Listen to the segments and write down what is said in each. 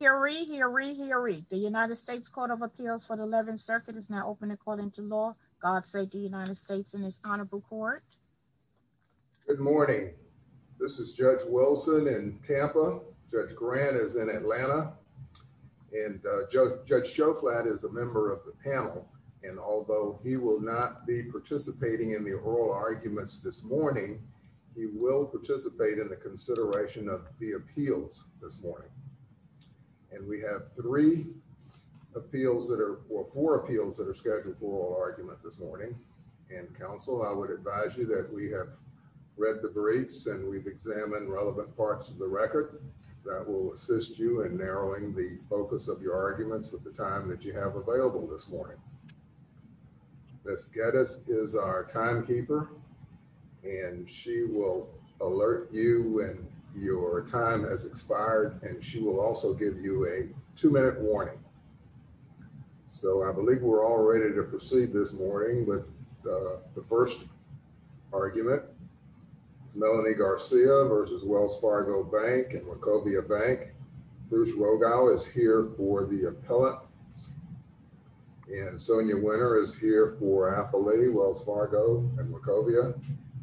Hear ye, hear ye, hear ye. The United States Court of Appeals for the 11th Circuit is now open according to law. God save the United States in this honorable court. Good morning. This is Judge Wilson in Tampa. Judge Grant is in Atlanta. And Judge Shoflat is a member of the panel and although he will not be participating in the oral arguments this morning, he will participate in the consideration of the appeals this morning. And we have three appeals that are, or four appeals that are scheduled for oral argument this morning. And counsel, I would advise you that we have read the briefs and we've examined relevant parts of the record that will assist you in narrowing the focus of your arguments with the time that you have available this morning. Ms. Geddes is our timekeeper and she will alert you when your time has expired and she will also give you a two-minute warning. So I believe we're all ready to proceed this morning with the first argument. It's Melanie Garcia v. Wells Fargo Bank and Wachovia Bank. Bruce Rogow is here for the appellate and Sonia is here for appellate Wells Fargo and Wachovia.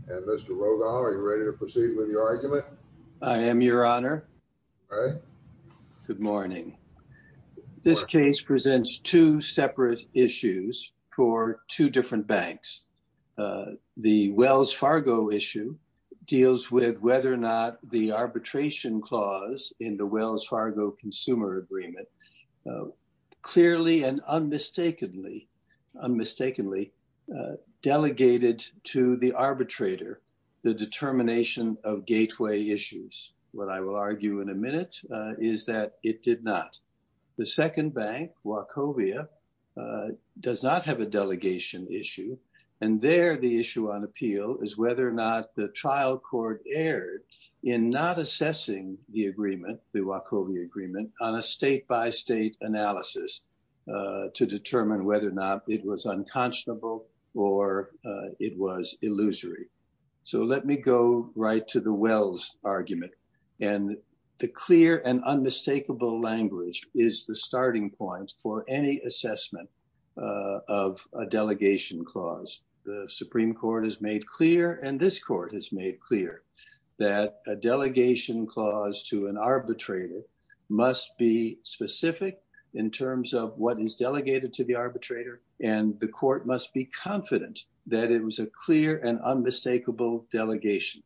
And Mr. Rogow, are you ready to proceed with your argument? I am your honor. Good morning. This case presents two separate issues for two different banks. The Wells Fargo issue deals with whether or not the arbitration clause in the Wells Fargo Consumer Agreement clearly and unmistakably delegated to the arbitrator the determination of gateway issues. What I will argue in a minute is that it did not. The second bank, Wachovia, does not have a delegation issue. And there the issue on appeal is whether or not the trial court erred in not assessing the agreement, the Wachovia agreement, on a state-by-state analysis to determine whether or not it was unconscionable or it was illusory. So let me go right to the Wells argument. And the clear and unmistakable language is the starting point for any assessment of a delegation clause. The Supreme Court has made clear and this court has made clear that a delegation clause to an arbitrator must be specific in terms of what is delegated to the arbitrator. And the court must be confident that it was a clear and unmistakable delegation.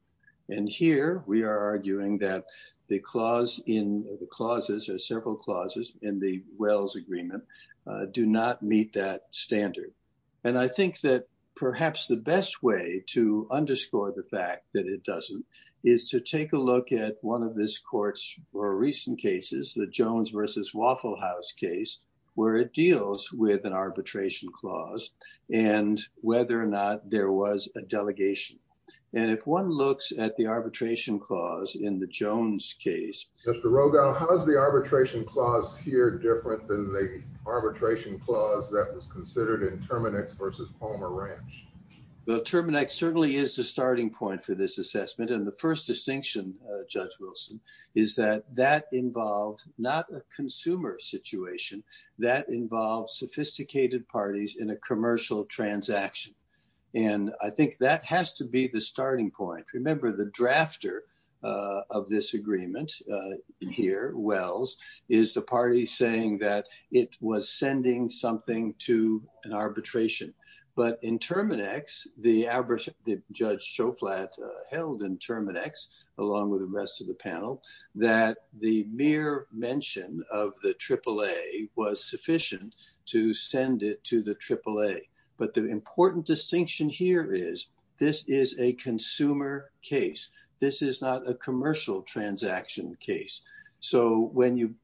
And here we are arguing that the clause in the clauses, there are several clauses in the standard. And I think that perhaps the best way to underscore the fact that it doesn't is to take a look at one of this court's more recent cases, the Jones versus Waffle House case, where it deals with an arbitration clause and whether or not there was a delegation. And if one looks at the arbitration clause in the Jones case. Mr. Rogow, how's the arbitration clause here different than the arbitration clause that was considered in Terminex versus Palmer Ranch? Well, Terminex certainly is the starting point for this assessment. And the first distinction, Judge Wilson, is that that involved not a consumer situation, that involves sophisticated parties in a commercial transaction. And I think that has to be the starting point. Remember, the drafter of this agreement here, Wells, is the party saying that it was sending something to an arbitration. But in Terminex, the judge Shoflat held in Terminex, along with the rest of the panel, that the mere mention of the AAA was sufficient to send it to the AAA. But the important distinction here is this is a consumer case. This is not a commercial transaction case. So when you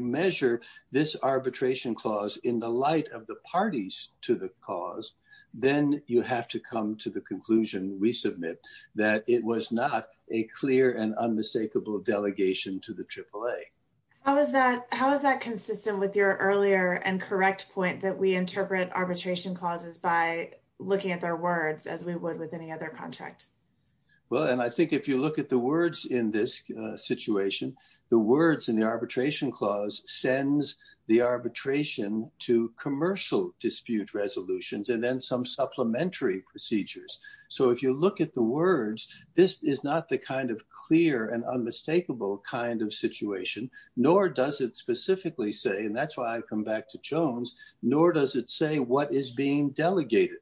measure this arbitration clause in the light of the parties to the cause, then you have to come to the conclusion, we submit, that it was not a clear and unmistakable delegation to the AAA. How is that consistent with your earlier and correct point that we interpret arbitration clauses by looking at their words as we would with any other contract? Well, and I think if you look at the words in this situation, the words in the arbitration clause sends the arbitration to commercial dispute resolutions and then some supplementary procedures. So if you look at the words, this is not the kind of clear and unmistakable kind of situation, nor does it specifically say, and that's why I come back to Jones, nor does it say what is being delegated.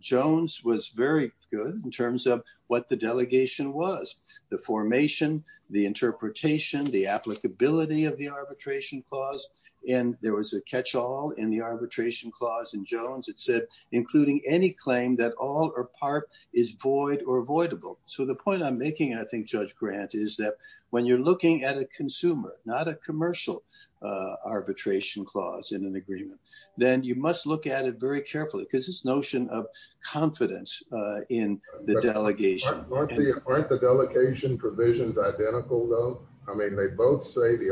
Jones was very good in terms of what the delegation was, the formation, the interpretation, the applicability of the arbitration clause. And there was a catch-all in the arbitration clause in Jones. It said, including any claim that all or part is void or avoidable. So the point I'm making, I think, Judge Grant, is that when you're looking at a consumer, not a commercial arbitration clause in an agreement, then you must look at it very carefully because this notion of confidence in the delegation. Aren't the delegation provisions identical though? I mean, they both say the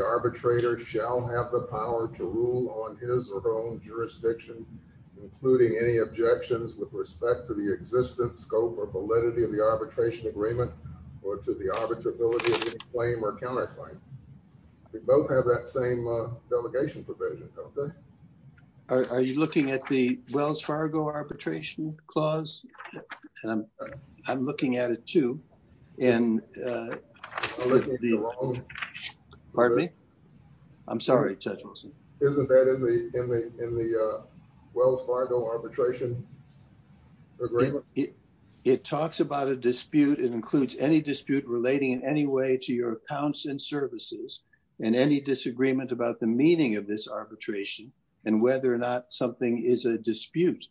objections with respect to the existence, scope, or validity of the arbitration agreement or to the arbitrability of the claim or counterclaim. They both have that same delegation provision, don't they? Are you looking at the Wells Fargo arbitration clause? I'm looking at it too. Pardon me? I'm sorry, Judge Wilson. Isn't that in the Wells Fargo arbitration agreement? It talks about a dispute. It includes any dispute relating in any way to your accounts and services and any disagreement about the meaning of this arbitration and whether or not something is a dispute.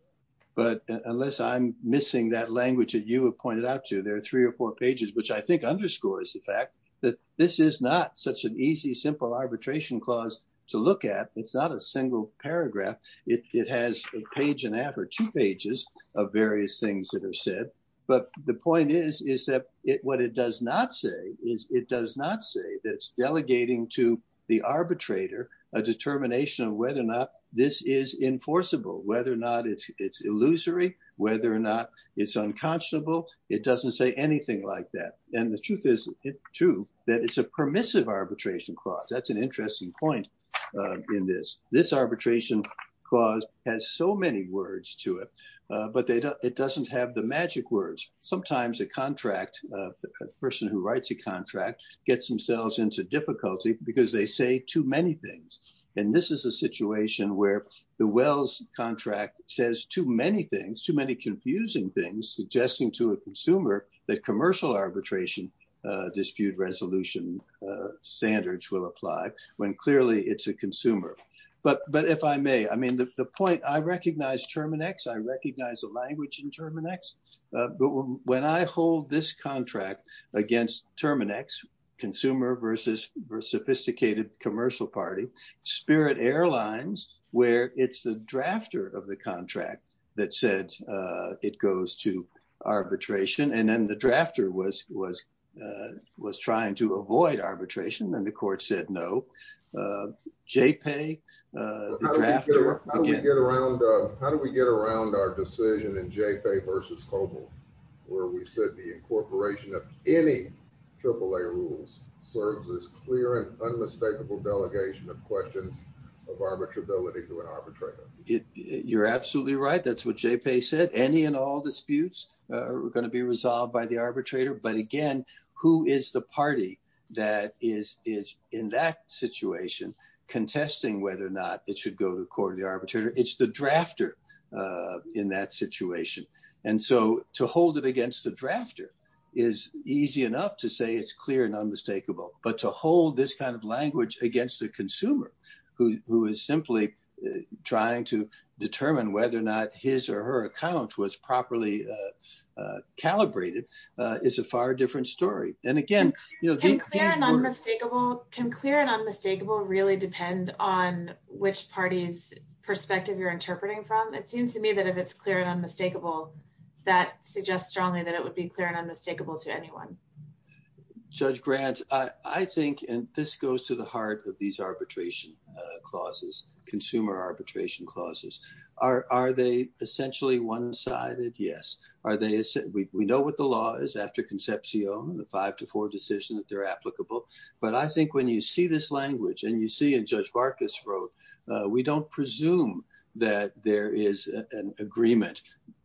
But unless I'm missing that language that you have pointed out to, there are three or four pages, which I think underscores the fact that this is not such an easy, simple arbitration clause to look at. It's not a single paragraph. It has a page and a half or two pages of various things that are said. But the point is, is that what it does not say is it does not say that it's delegating to the arbitrator a determination of whether or not this is enforceable, whether or not it's illusory, whether or not it's unconscionable. It doesn't say anything like that. And the truth is, too, that it's a permissive arbitration clause. That's an interesting point in this. This arbitration clause has so many words to it, but it doesn't have the magic words. Sometimes a contract, a person who writes a contract, gets themselves into difficulty because they say too many things. And this is a situation where the Wells contract says too many things, too many confusing things, suggesting to a consumer that commercial arbitration dispute resolution standards will apply when clearly it's a consumer. But if I may, I mean, the point, I recognize Terminex, I recognize the language in Terminex, but when I hold this contract against Terminex, consumer versus sophisticated commercial party, Spirit Airlines, where it's the drafter of the contract that said it goes to arbitration, and then the drafter was trying to avoid arbitration, and the court said no. JPAY, the drafter, again. How do we get around our decision in JPAY versus COBOL, where we said the incorporation of any AAA rules serves as clear and unmistakable delegation of questions of arbitrability to an arbitrator? You're absolutely right. That's what JPAY said. Any and all disputes are going to be resolved by the arbitrator. But again, who is the party that is in that situation contesting whether or not it should go to court of the arbitrator? It's the drafter in that situation. And so to hold it against the drafter is easy enough to say it's clear and unmistakable. But to hold this kind of language against the consumer, who is simply trying to determine whether or not his or her account was properly calibrated, is a far different story. And again, you know- Can clear and unmistakable really depend on which party's perspective you're interpreting from? It seems to me that if it's clear and unmistakable, that suggests strongly that it would be clear and unmistakable to anyone. Judge Grant, I think, and this goes to the heart of these arbitration clauses, consumer arbitration clauses, are they essentially one-sided? Yes. We know what the law is after concepcion, the five to four decision that they're applicable. But I think you see this language, and you see in Judge Barkas wrote, we don't presume that there is an agreement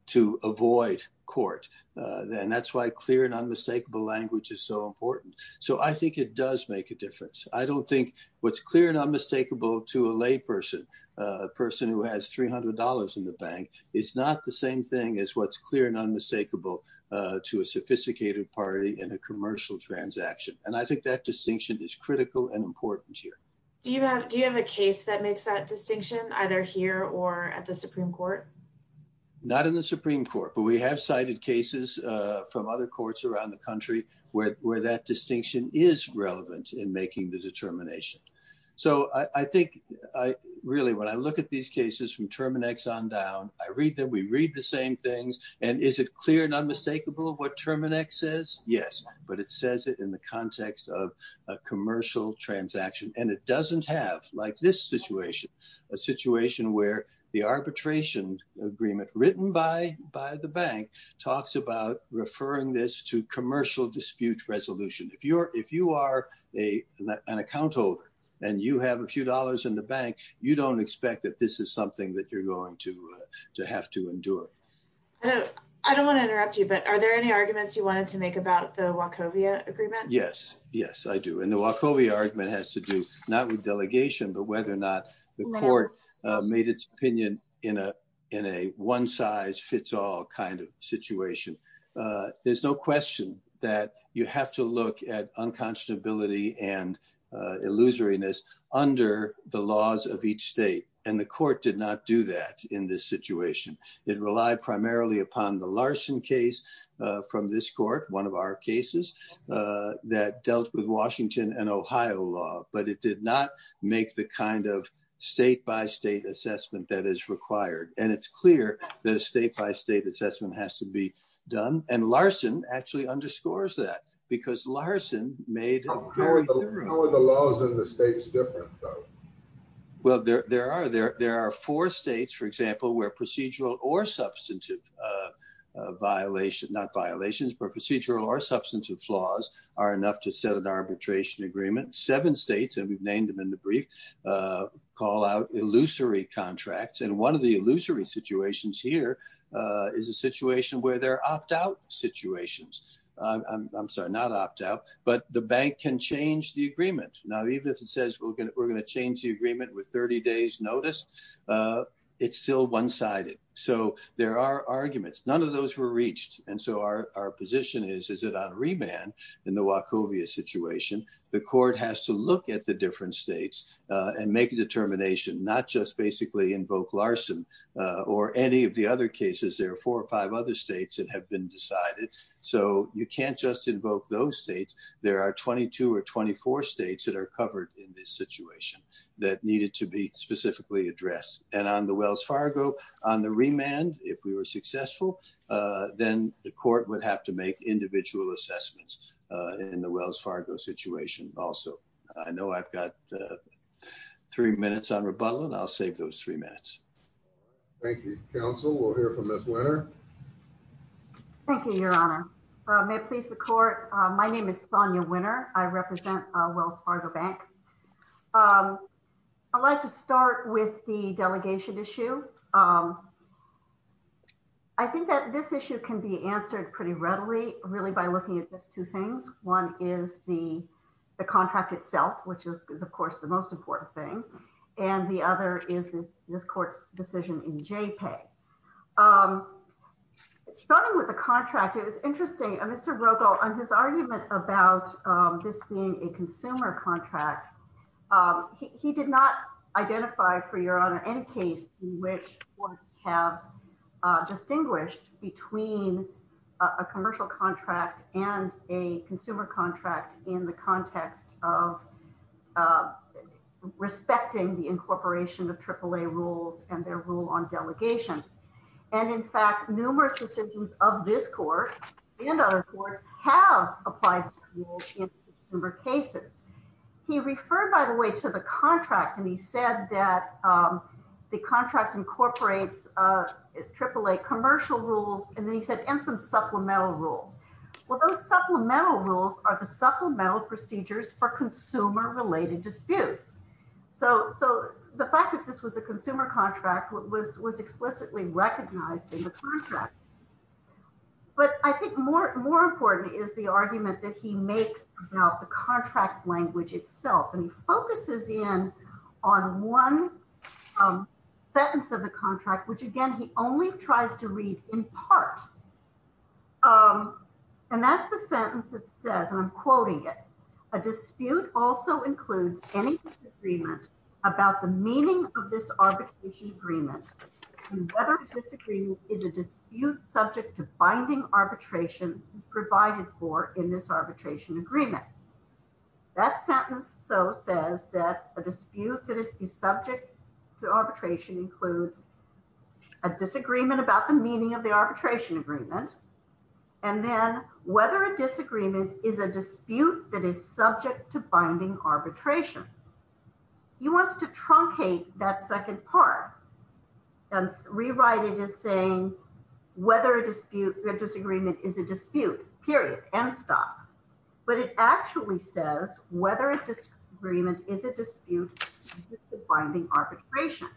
to avoid court. And that's why clear and unmistakable language is so important. So I think it does make a difference. I don't think what's clear and unmistakable to a lay person, a person who has $300 in the bank, is not the same thing as what's clear and unmistakable to a sophisticated party in a commercial transaction. And I think that distinction is critical and important here. Do you have a case that makes that distinction either here or at the Supreme Court? Not in the Supreme Court, but we have cited cases from other courts around the country where that distinction is relevant in making the determination. So I think, really, when I look at these cases from Terminex on down, I read them, we read the same things. And is it clear and yes, but it says it in the context of a commercial transaction. And it doesn't have, like this situation, a situation where the arbitration agreement written by the bank talks about referring this to commercial dispute resolution. If you are an account holder, and you have a few dollars in the bank, you don't expect that this is something that you're going to have to endure. I don't want to interrupt you, but are there any arguments you wanted about the Wachovia agreement? Yes, yes, I do. And the Wachovia argument has to do not with delegation, but whether or not the court made its opinion in a one-size-fits-all kind of situation. There's no question that you have to look at unconscionability and illusoriness under the laws of each state. And the court did not do that in this situation. It relied primarily upon the Larson case from this court, one of our cases, that dealt with Washington and Ohio law, but it did not make the kind of state-by-state assessment that is required. And it's clear that a state-by-state assessment has to be done. And Larson actually underscores that because Larson made... How are the laws in the states different though? Well, there are four states, for example, where procedural or substantive violations, not violations, but procedural or substantive flaws are enough to set an arbitration agreement. Seven states, and we've named them in the brief, call out illusory contracts. And one of the illusory situations here is a situation where there are opt-out situations. I'm sorry, not opt-out, but the bank can change the agreement. Now, even if it says we're going to change the agreement with 30 days notice, it's still one-sided. So there are arguments. None of those were reached. And so our position is, is it on remand in the Wachovia situation? The court has to look at the different states and make a determination, not just basically invoke Larson or any of the other cases. There are four or five other states that have been decided. So you can't just invoke those states. There are 22 or 24 states that are covered in this situation that needed to be specifically addressed. And on the Wells Fargo, on the remand, if we were successful, then the court would have to make individual assessments in the Wells Fargo situation also. I know I've got three minutes on rebuttal and I'll save those three minutes. Thank you, counsel. We'll hear from Ms. Leonard. Thank you, your honor. May it please the court. My name is Sonia Winner. I represent Wells Fargo Bank. I'd like to start with the delegation issue. I think that this issue can be answered pretty readily really by looking at just two things. One is the contract itself, which is of course the most important thing. And the other is this court's decision in JPEG. Starting with the contract, it was interesting, Mr. Brokaw, on his argument about this being a consumer contract, he did not identify, for your honor, any case in which courts have distinguished between a commercial contract and a consumer contract in the context of respecting the incorporation of AAA rules and their rule on delegation. And in fact, numerous decisions of this court and other courts have applied rules in consumer cases. He referred, by the way, to the contract and he said that the contract incorporates AAA commercial rules, and then he said, and some supplemental rules. Well, those supplemental rules are the supplemental procedures for consumer-related disputes. So the fact that this was a consumer contract was explicitly recognized in the contract. But I think more important is the argument that he makes about the contract language itself. And he focuses in on one sentence of the contract, which again, he only tries to read in part. And that's the sentence that says, and I'm quoting it, a dispute also includes any agreement about the meaning of this arbitration agreement, whether this agreement is a dispute subject to binding arbitration provided for in this arbitration agreement. That sentence so says that a dispute that is the subject to arbitration includes a disagreement about the meaning of the arbitration agreement, and then whether a disagreement is subject to binding arbitration. He wants to truncate that second part and rewrite it as saying, whether a dispute, a disagreement is a dispute, period, end stop. But it actually says whether a disagreement is a dispute subject to binding arbitration.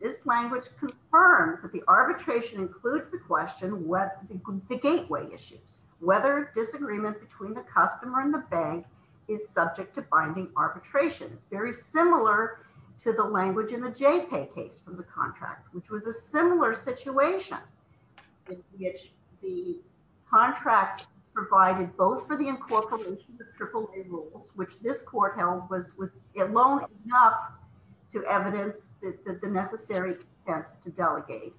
This language confirms that the arbitration includes the question, the gateway issues, whether disagreement between the customer and the bank is subject to binding arbitration. It's very similar to the language in the JPay case from the contract, which was a similar situation in which the contract provided both for the incorporation of AAA rules, which this court held was alone enough to evidence that the necessary intent to delegate.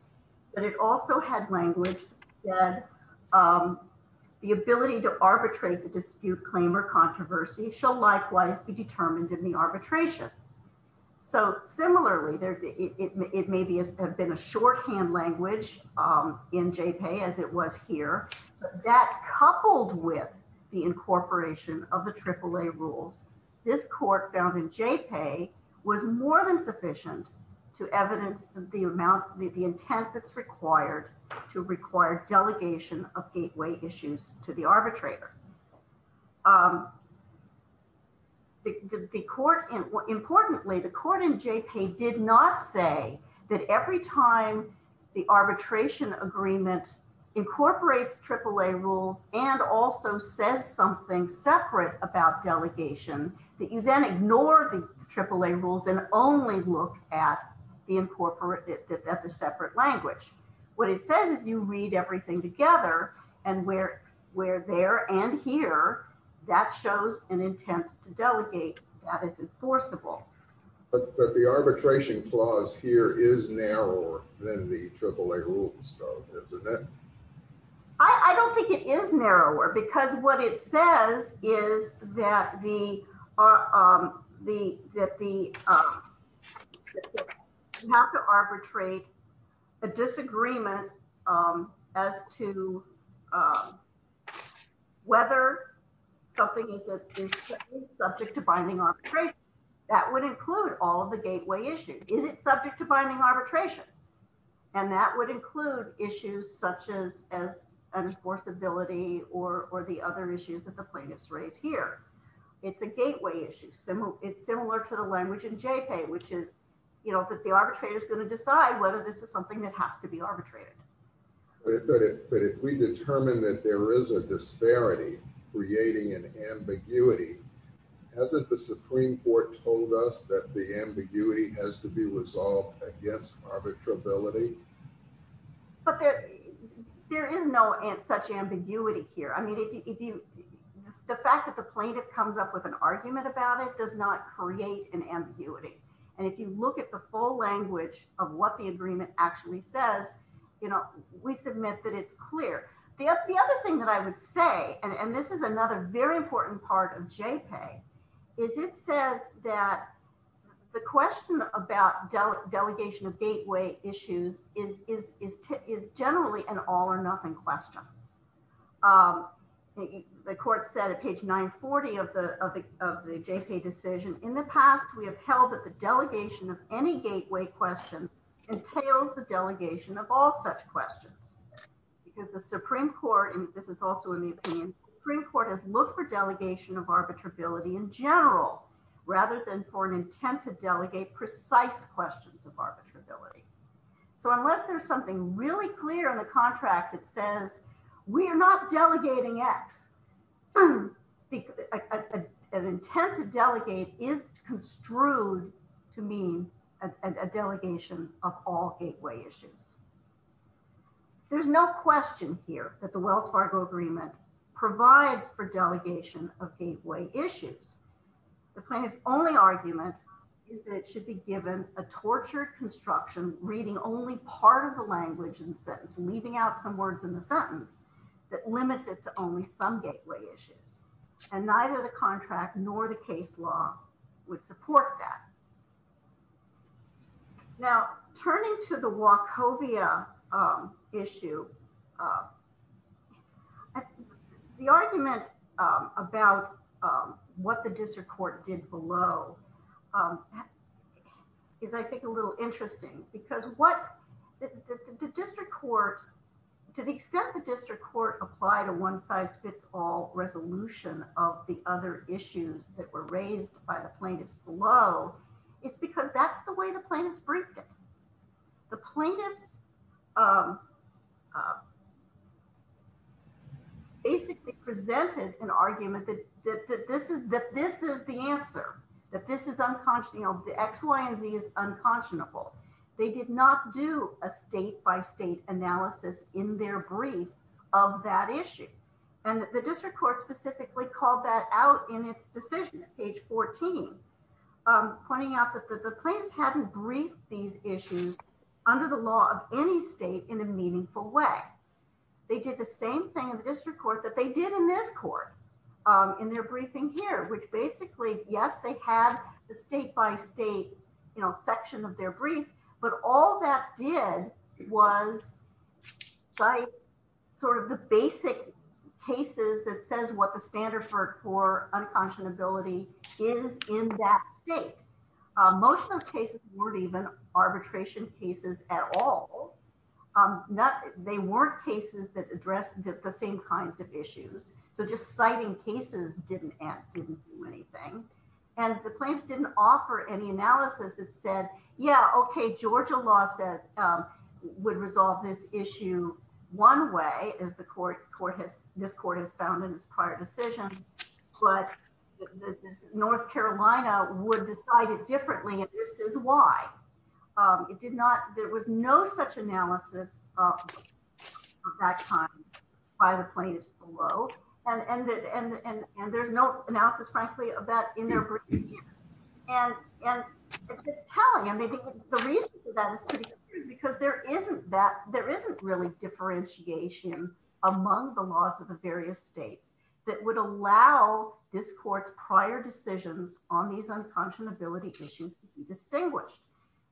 But it also had language that the ability to arbitrate the dispute claim or controversy shall likewise be determined in the arbitration. So similarly, it may have been a shorthand language in JPay as it was here, but that coupled with the incorporation of the AAA rules, this court found in JPay was more than sufficient to evidence the amount, the intent that's required to require delegation of gateway issues to the arbitrator. Importantly, the court in JPay did not say that every time the arbitration agreement incorporates AAA rules and also says something separate about delegation, that you then ignore the AAA rules and only look at the separate language. What it says is you read everything together and where there and here, that shows an intent to delegate that is enforceable. But the arbitration clause here is narrower than the AAA rules though, isn't it? I don't think it is narrower because what it says is that the not to arbitrate a disagreement as to whether something is subject to binding arbitration. That would include all the gateway issues. Is it subject to binding arbitration? And that would include issues such as enforceability or the other issues that the plaintiffs raise here. It's a gateway issue. It's similar to the language in JPay, which is that the arbitrator is going to decide whether this is something that has to be arbitrated. But if we determine that there is a disparity creating an ambiguity, hasn't the Supreme Court told us that the ambiguity has to be resolved against arbitrability? But there is no such ambiguity here. The fact that the plaintiff comes up with an argument about it does not create an ambiguity. And if you look at the full language of what the agreement actually says, we submit that it's clear. The other thing that I would say, and this is another very important point in JPay, is it says that the question about delegation of gateway issues is generally an all or nothing question. The court said at page 940 of the JPay decision, in the past we have held that the delegation of any gateway question entails the delegation of all such questions. Because the Supreme Court, and this is also in the opinion, the Supreme Court has looked for delegation of arbitrability in general, rather than for an intent to delegate precise questions of arbitrability. So unless there's something really clear in the contract that says we are not delegating X, an intent to delegate is construed to mean a delegation of all of gateway issues. The plaintiff's only argument is that it should be given a tortured construction reading only part of the language in the sentence, leaving out some words in the sentence that limits it to only some gateway issues. And neither the contract nor the case law would support that. Now, turning to the Wachovia issue, the argument about what the district court did below is, I think, a little interesting, because what the district court, to the extent the district court applied a one size fits all resolution of the other issues that were raised by the plaintiffs below, it's because that's the way the plaintiffs briefed it. The plaintiffs basically presented an argument that this is the answer, that this is unconscionable, the X, Y, and Z is unconscionable. They did not do a state by state analysis in their brief of that issue. And the district court specifically called that out in its decision at page 14, pointing out that the plaintiffs hadn't briefed these issues under the law of any state in a meaningful way. They did the same thing in the district court that they did in this court in their briefing here, which basically, yes, they had the state by state section of their brief, but all that did was cite sort of the basic cases that says what the standard for unconscionability is in that state. Most of those cases weren't even arbitration cases at all. They weren't cases that addressed the same kinds of issues. So just citing cases didn't do anything. And the plaintiffs didn't offer any analysis that said, yeah, okay, Georgia law said would resolve this issue one way, as this court has found in its prior decisions, but North Carolina would decide it differently, and this is why. There was no such analysis of that time by the plaintiffs below, and there's no analysis, frankly, of that in their brief. And it's telling, and the reason for that is because there isn't really differentiation among the laws of the various states that would allow this court's prior decisions on these unconscionability issues to be distinguished.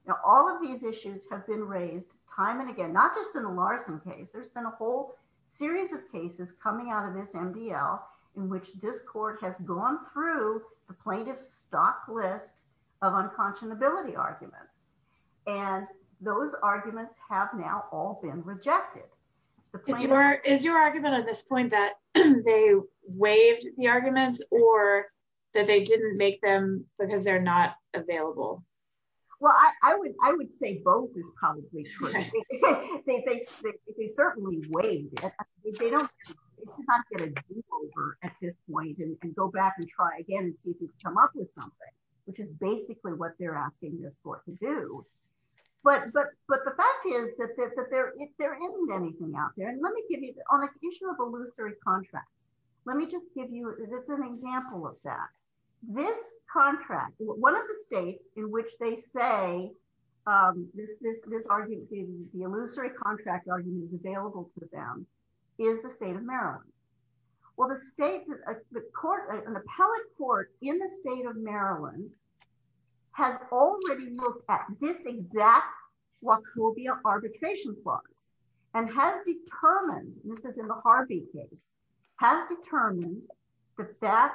Now, all of these issues have been raised time and again, not just in the Larson case. There's been a whole series of cases coming out of this MDL in which this court has gone through the plaintiff's stock list of unconscionability arguments, and those arguments have now all been rejected. Is your argument at this point that they waived the arguments or that they didn't make them because they're not available? Well, I would say both is probably true. They certainly waived it. It's not going to be over at this point and go back and try again and see if we can come up with something, which is basically what they're asking this court to do. But the fact is that there isn't anything out there, and let me give you, on the issue of illusory contracts, let me just give you an example of that. This contract, one of the states in which they say the illusory contract argument is available to them is the state of Maryland. Well, an appellate court in the state of Maryland has already looked at this exact Wachovia arbitration clause and has determined, this is in the Harvey case, has determined that that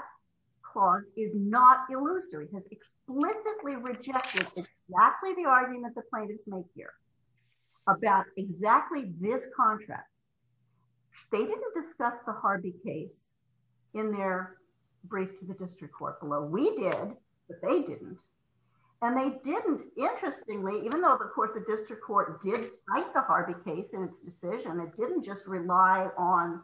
clause is not illusory, has explicitly rejected exactly the argument the plaintiffs make here about exactly this contract. They didn't discuss the Harvey case in their brief to the district court below. We did, but they didn't, and they didn't, interestingly, even though, of course, the district court did cite the Harvey case in its decision, it didn't just rely on,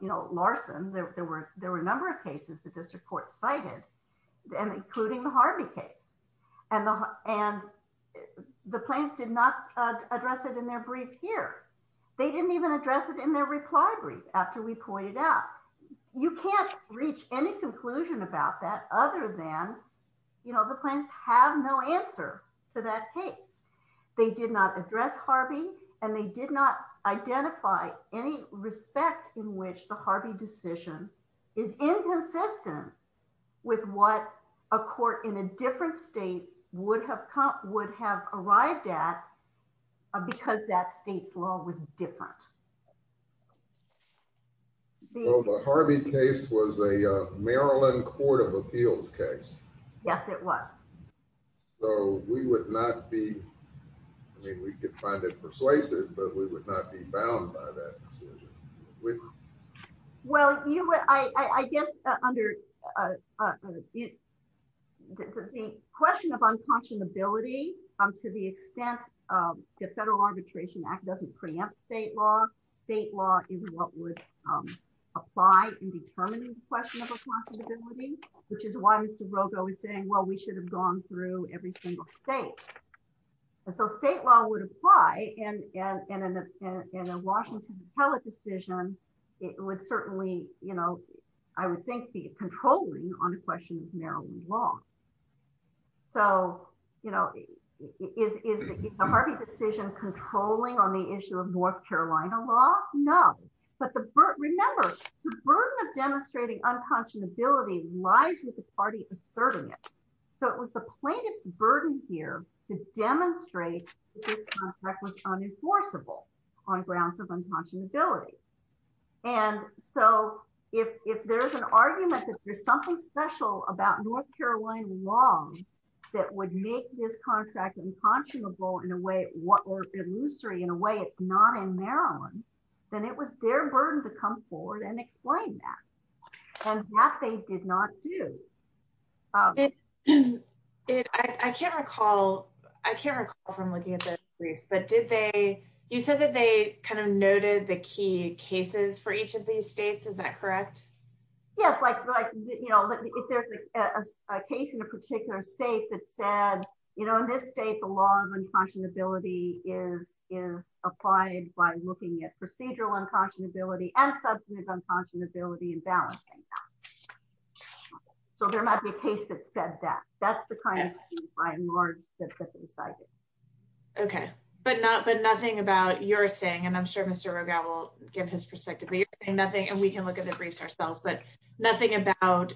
you know, Larson. There were a number of cases that the district court cited, including the Harvey case, and the plaintiffs did not address it in their brief here. They didn't even address it in their reply brief after we pointed out. You can't reach any conclusion about that other than, you know, the plaintiffs have no answer to that case. They did not address Harvey, and they did not identify any respect in which the Harvey decision is inconsistent with what a court in a different state would have come, would have arrived at because that state's law was different. Well, the Harvey case was a Maryland court of appeals case. Yes, it was. So, we would not be, I mean, we could find it persuasive, but we would not be bound by that decision. Well, you know what, I guess under the question of unconscionability, to the extent the Federal Arbitration Act doesn't preempt state law, state law is what would apply in determining the question of unconscionability, which is why Mr. Rogo is saying, well, we should have gone through every single state. And so state law would apply, and in a Washington appellate decision, it would certainly, you know, I would think be controlling on the question of Maryland law. So, you know, is the Harvey decision controlling on the issue of North Carolina law? No, but remember, the burden of demonstrating unconscionability lies with the party asserting it. So, it was the plaintiff's burden here to demonstrate that this contract was unenforceable on grounds of unconscionability. And so, if there's an argument that there's something special about North Carolina law that would make this contract unconscionable in a way, or illusory in a way it's not in Maryland, then it was their burden to come forward and explain that. And that they did not do. I can't recall, I can't recall from looking at the briefs, but did they, you said that they kind of noted the key cases for each of these states, is that correct? Yes, like, you know, if there's a case in a particular state that said, you know, in this state, the law of unconscionability is applied by looking at procedural unconscionability and substantive unconscionability and balancing that. So, there might be a case that said that. That's the kind of thing by and large that they cited. Okay, but nothing about your saying, and I'm sure Mr. Rogow will give his perspective, but you're saying nothing, and we can look at the briefs ourselves, but nothing about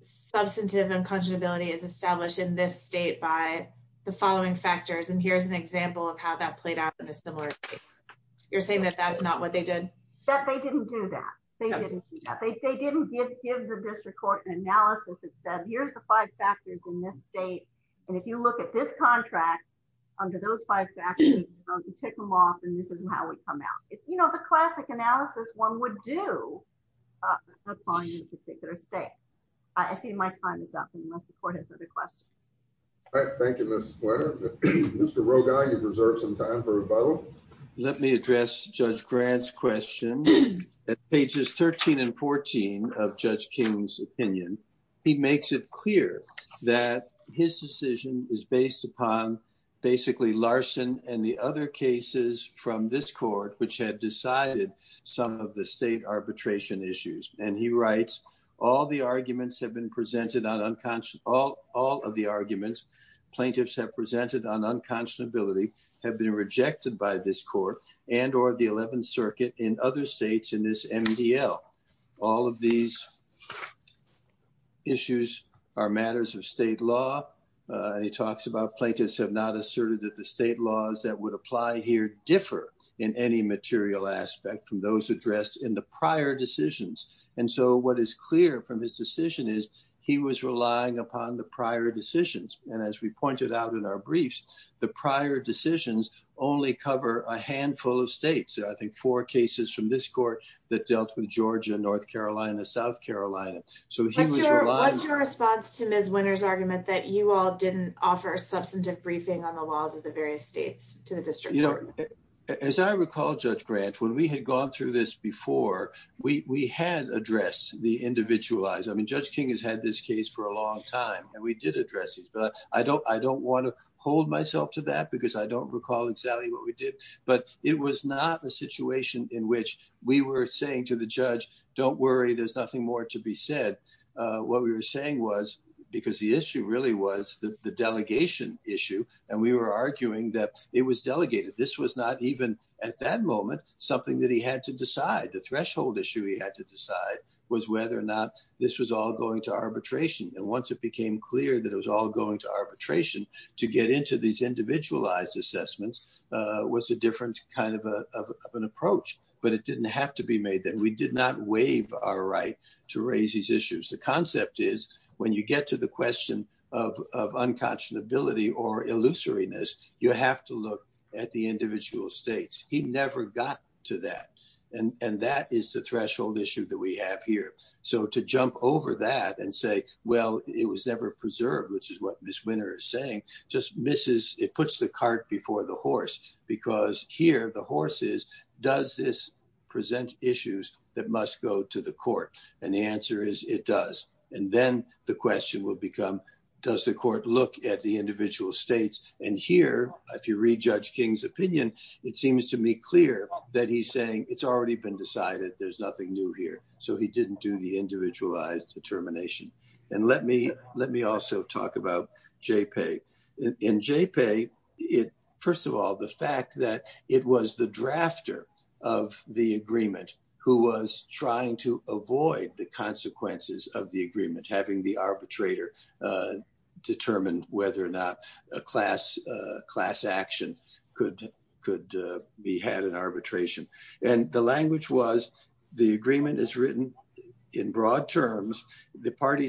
substantive unconscionability is established in this state by the following factors. And here's an example of how that played out in a similar case. You're saying that that's not what they did? That they didn't do that. They didn't do that. They didn't give the district court an analysis that said, here's the five factors in this state, and if you look at this contract under those five factors, you take them off and this is how it would come out. You know, the classic analysis one would do upon a particular state. I see my time is up, unless the court has other questions. All right, thank you, Ms. Swenor. Mr. Rogow, you deserve some time for rebuttal. Let me address Judge Grant's question. At pages 13 and 14 of Judge King's opinion, he makes it clear that his decision is based upon basically Larson and the cases from this court which had decided some of the state arbitration issues. And he writes, all of the arguments plaintiffs have presented on unconscionability have been rejected by this court and or the 11th circuit in other states in this MDL. All of these issues are matters of state law. He talks about plaintiffs have not asserted that the state laws that would apply here differ in any material aspect from those addressed in the prior decisions. And so what is clear from his decision is he was relying upon the prior decisions. And as we pointed out in our briefs, the prior decisions only cover a handful of states. I think four cases from this court that dealt with Georgia, North Carolina, South Carolina. What's your response to Ms. Swenor's argument that you all didn't offer a substantive briefing on the laws of the various states to the district? As I recall, Judge Grant, when we had gone through this before, we had addressed the individualized. I mean, Judge King has had this case for a long time and we did address these, but I don't want to hold myself to that because I don't recall exactly what we did. But it was not a situation in which we were saying to the judge, don't worry, there's nothing more to be said. What we were saying was, because the issue really was the delegation issue, and we were arguing that it was delegated. This was not even at that moment, something that he had to decide. The threshold issue he had to decide was whether or not this was all going to arbitration. And once it became clear that it was all going to arbitration, to get into these individualized assessments was a different kind of an approach, but it didn't have to be made then. We did not waive our right to raise these issues. The concept is when you get to the question of unconscionability or illusoriness, you have to look at the individual states. He never got to that. And that is the threshold issue that we have here. So to jump over that and say, well, it was never because here the horse is, does this present issues that must go to the court? And the answer is it does. And then the question will become, does the court look at the individual states? And here, if you read Judge King's opinion, it seems to me clear that he's saying it's already been decided. There's nothing new here. So he didn't do the individualized determination. And let me also talk about JPEG. In JPEG, first of all, the fact that it was the drafter of the agreement who was trying to avoid the consequences of the agreement, having the arbitrator determine whether or not a class action could be had in arbitration. And the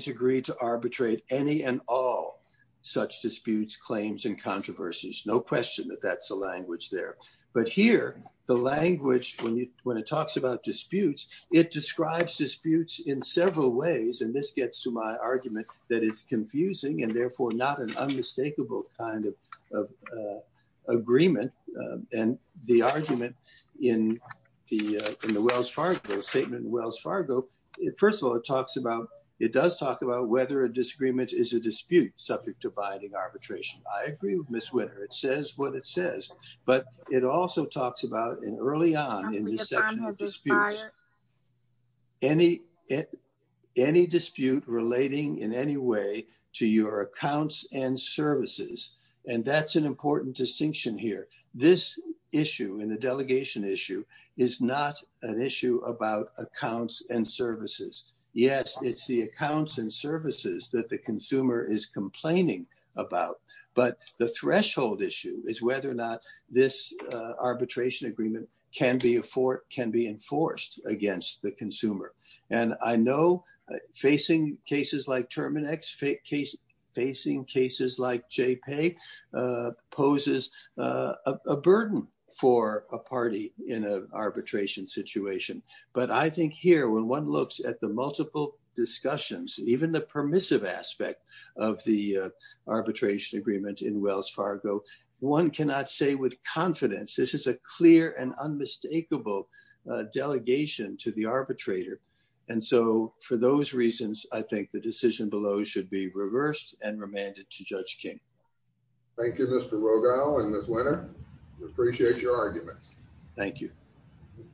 agreed to arbitrate any and all such disputes, claims, and controversies. No question that that's the language there. But here, the language when it talks about disputes, it describes disputes in several ways. And this gets to my argument that it's confusing and therefore not an unmistakable kind of agreement. And the argument in the Wells Fargo statement, Wells Fargo, first of all, it does talk about whether a disagreement is a dispute subject to binding arbitration. I agree with Ms. Winner. It says what it says. But it also talks about, and early on in this section of the dispute, any dispute relating in any way to your accounts and services. And that's an important distinction here. This issue in the delegation issue is not an issue about accounts and services. Yes, it's the accounts and services that the consumer is complaining about. But the threshold issue is whether or not this arbitration agreement can be enforced against the consumer. And I know facing cases like Terminex, facing cases like JPAY poses a burden for a party in an arbitration situation. But I think here, when one looks at the multiple discussions, even the permissive aspect of the arbitration agreement in Wells Fargo, one cannot say with And so for those reasons, I think the decision below should be reversed and remanded to Judge King. Thank you, Mr. Rogow and Ms. Winner. We appreciate your arguments. Thank you.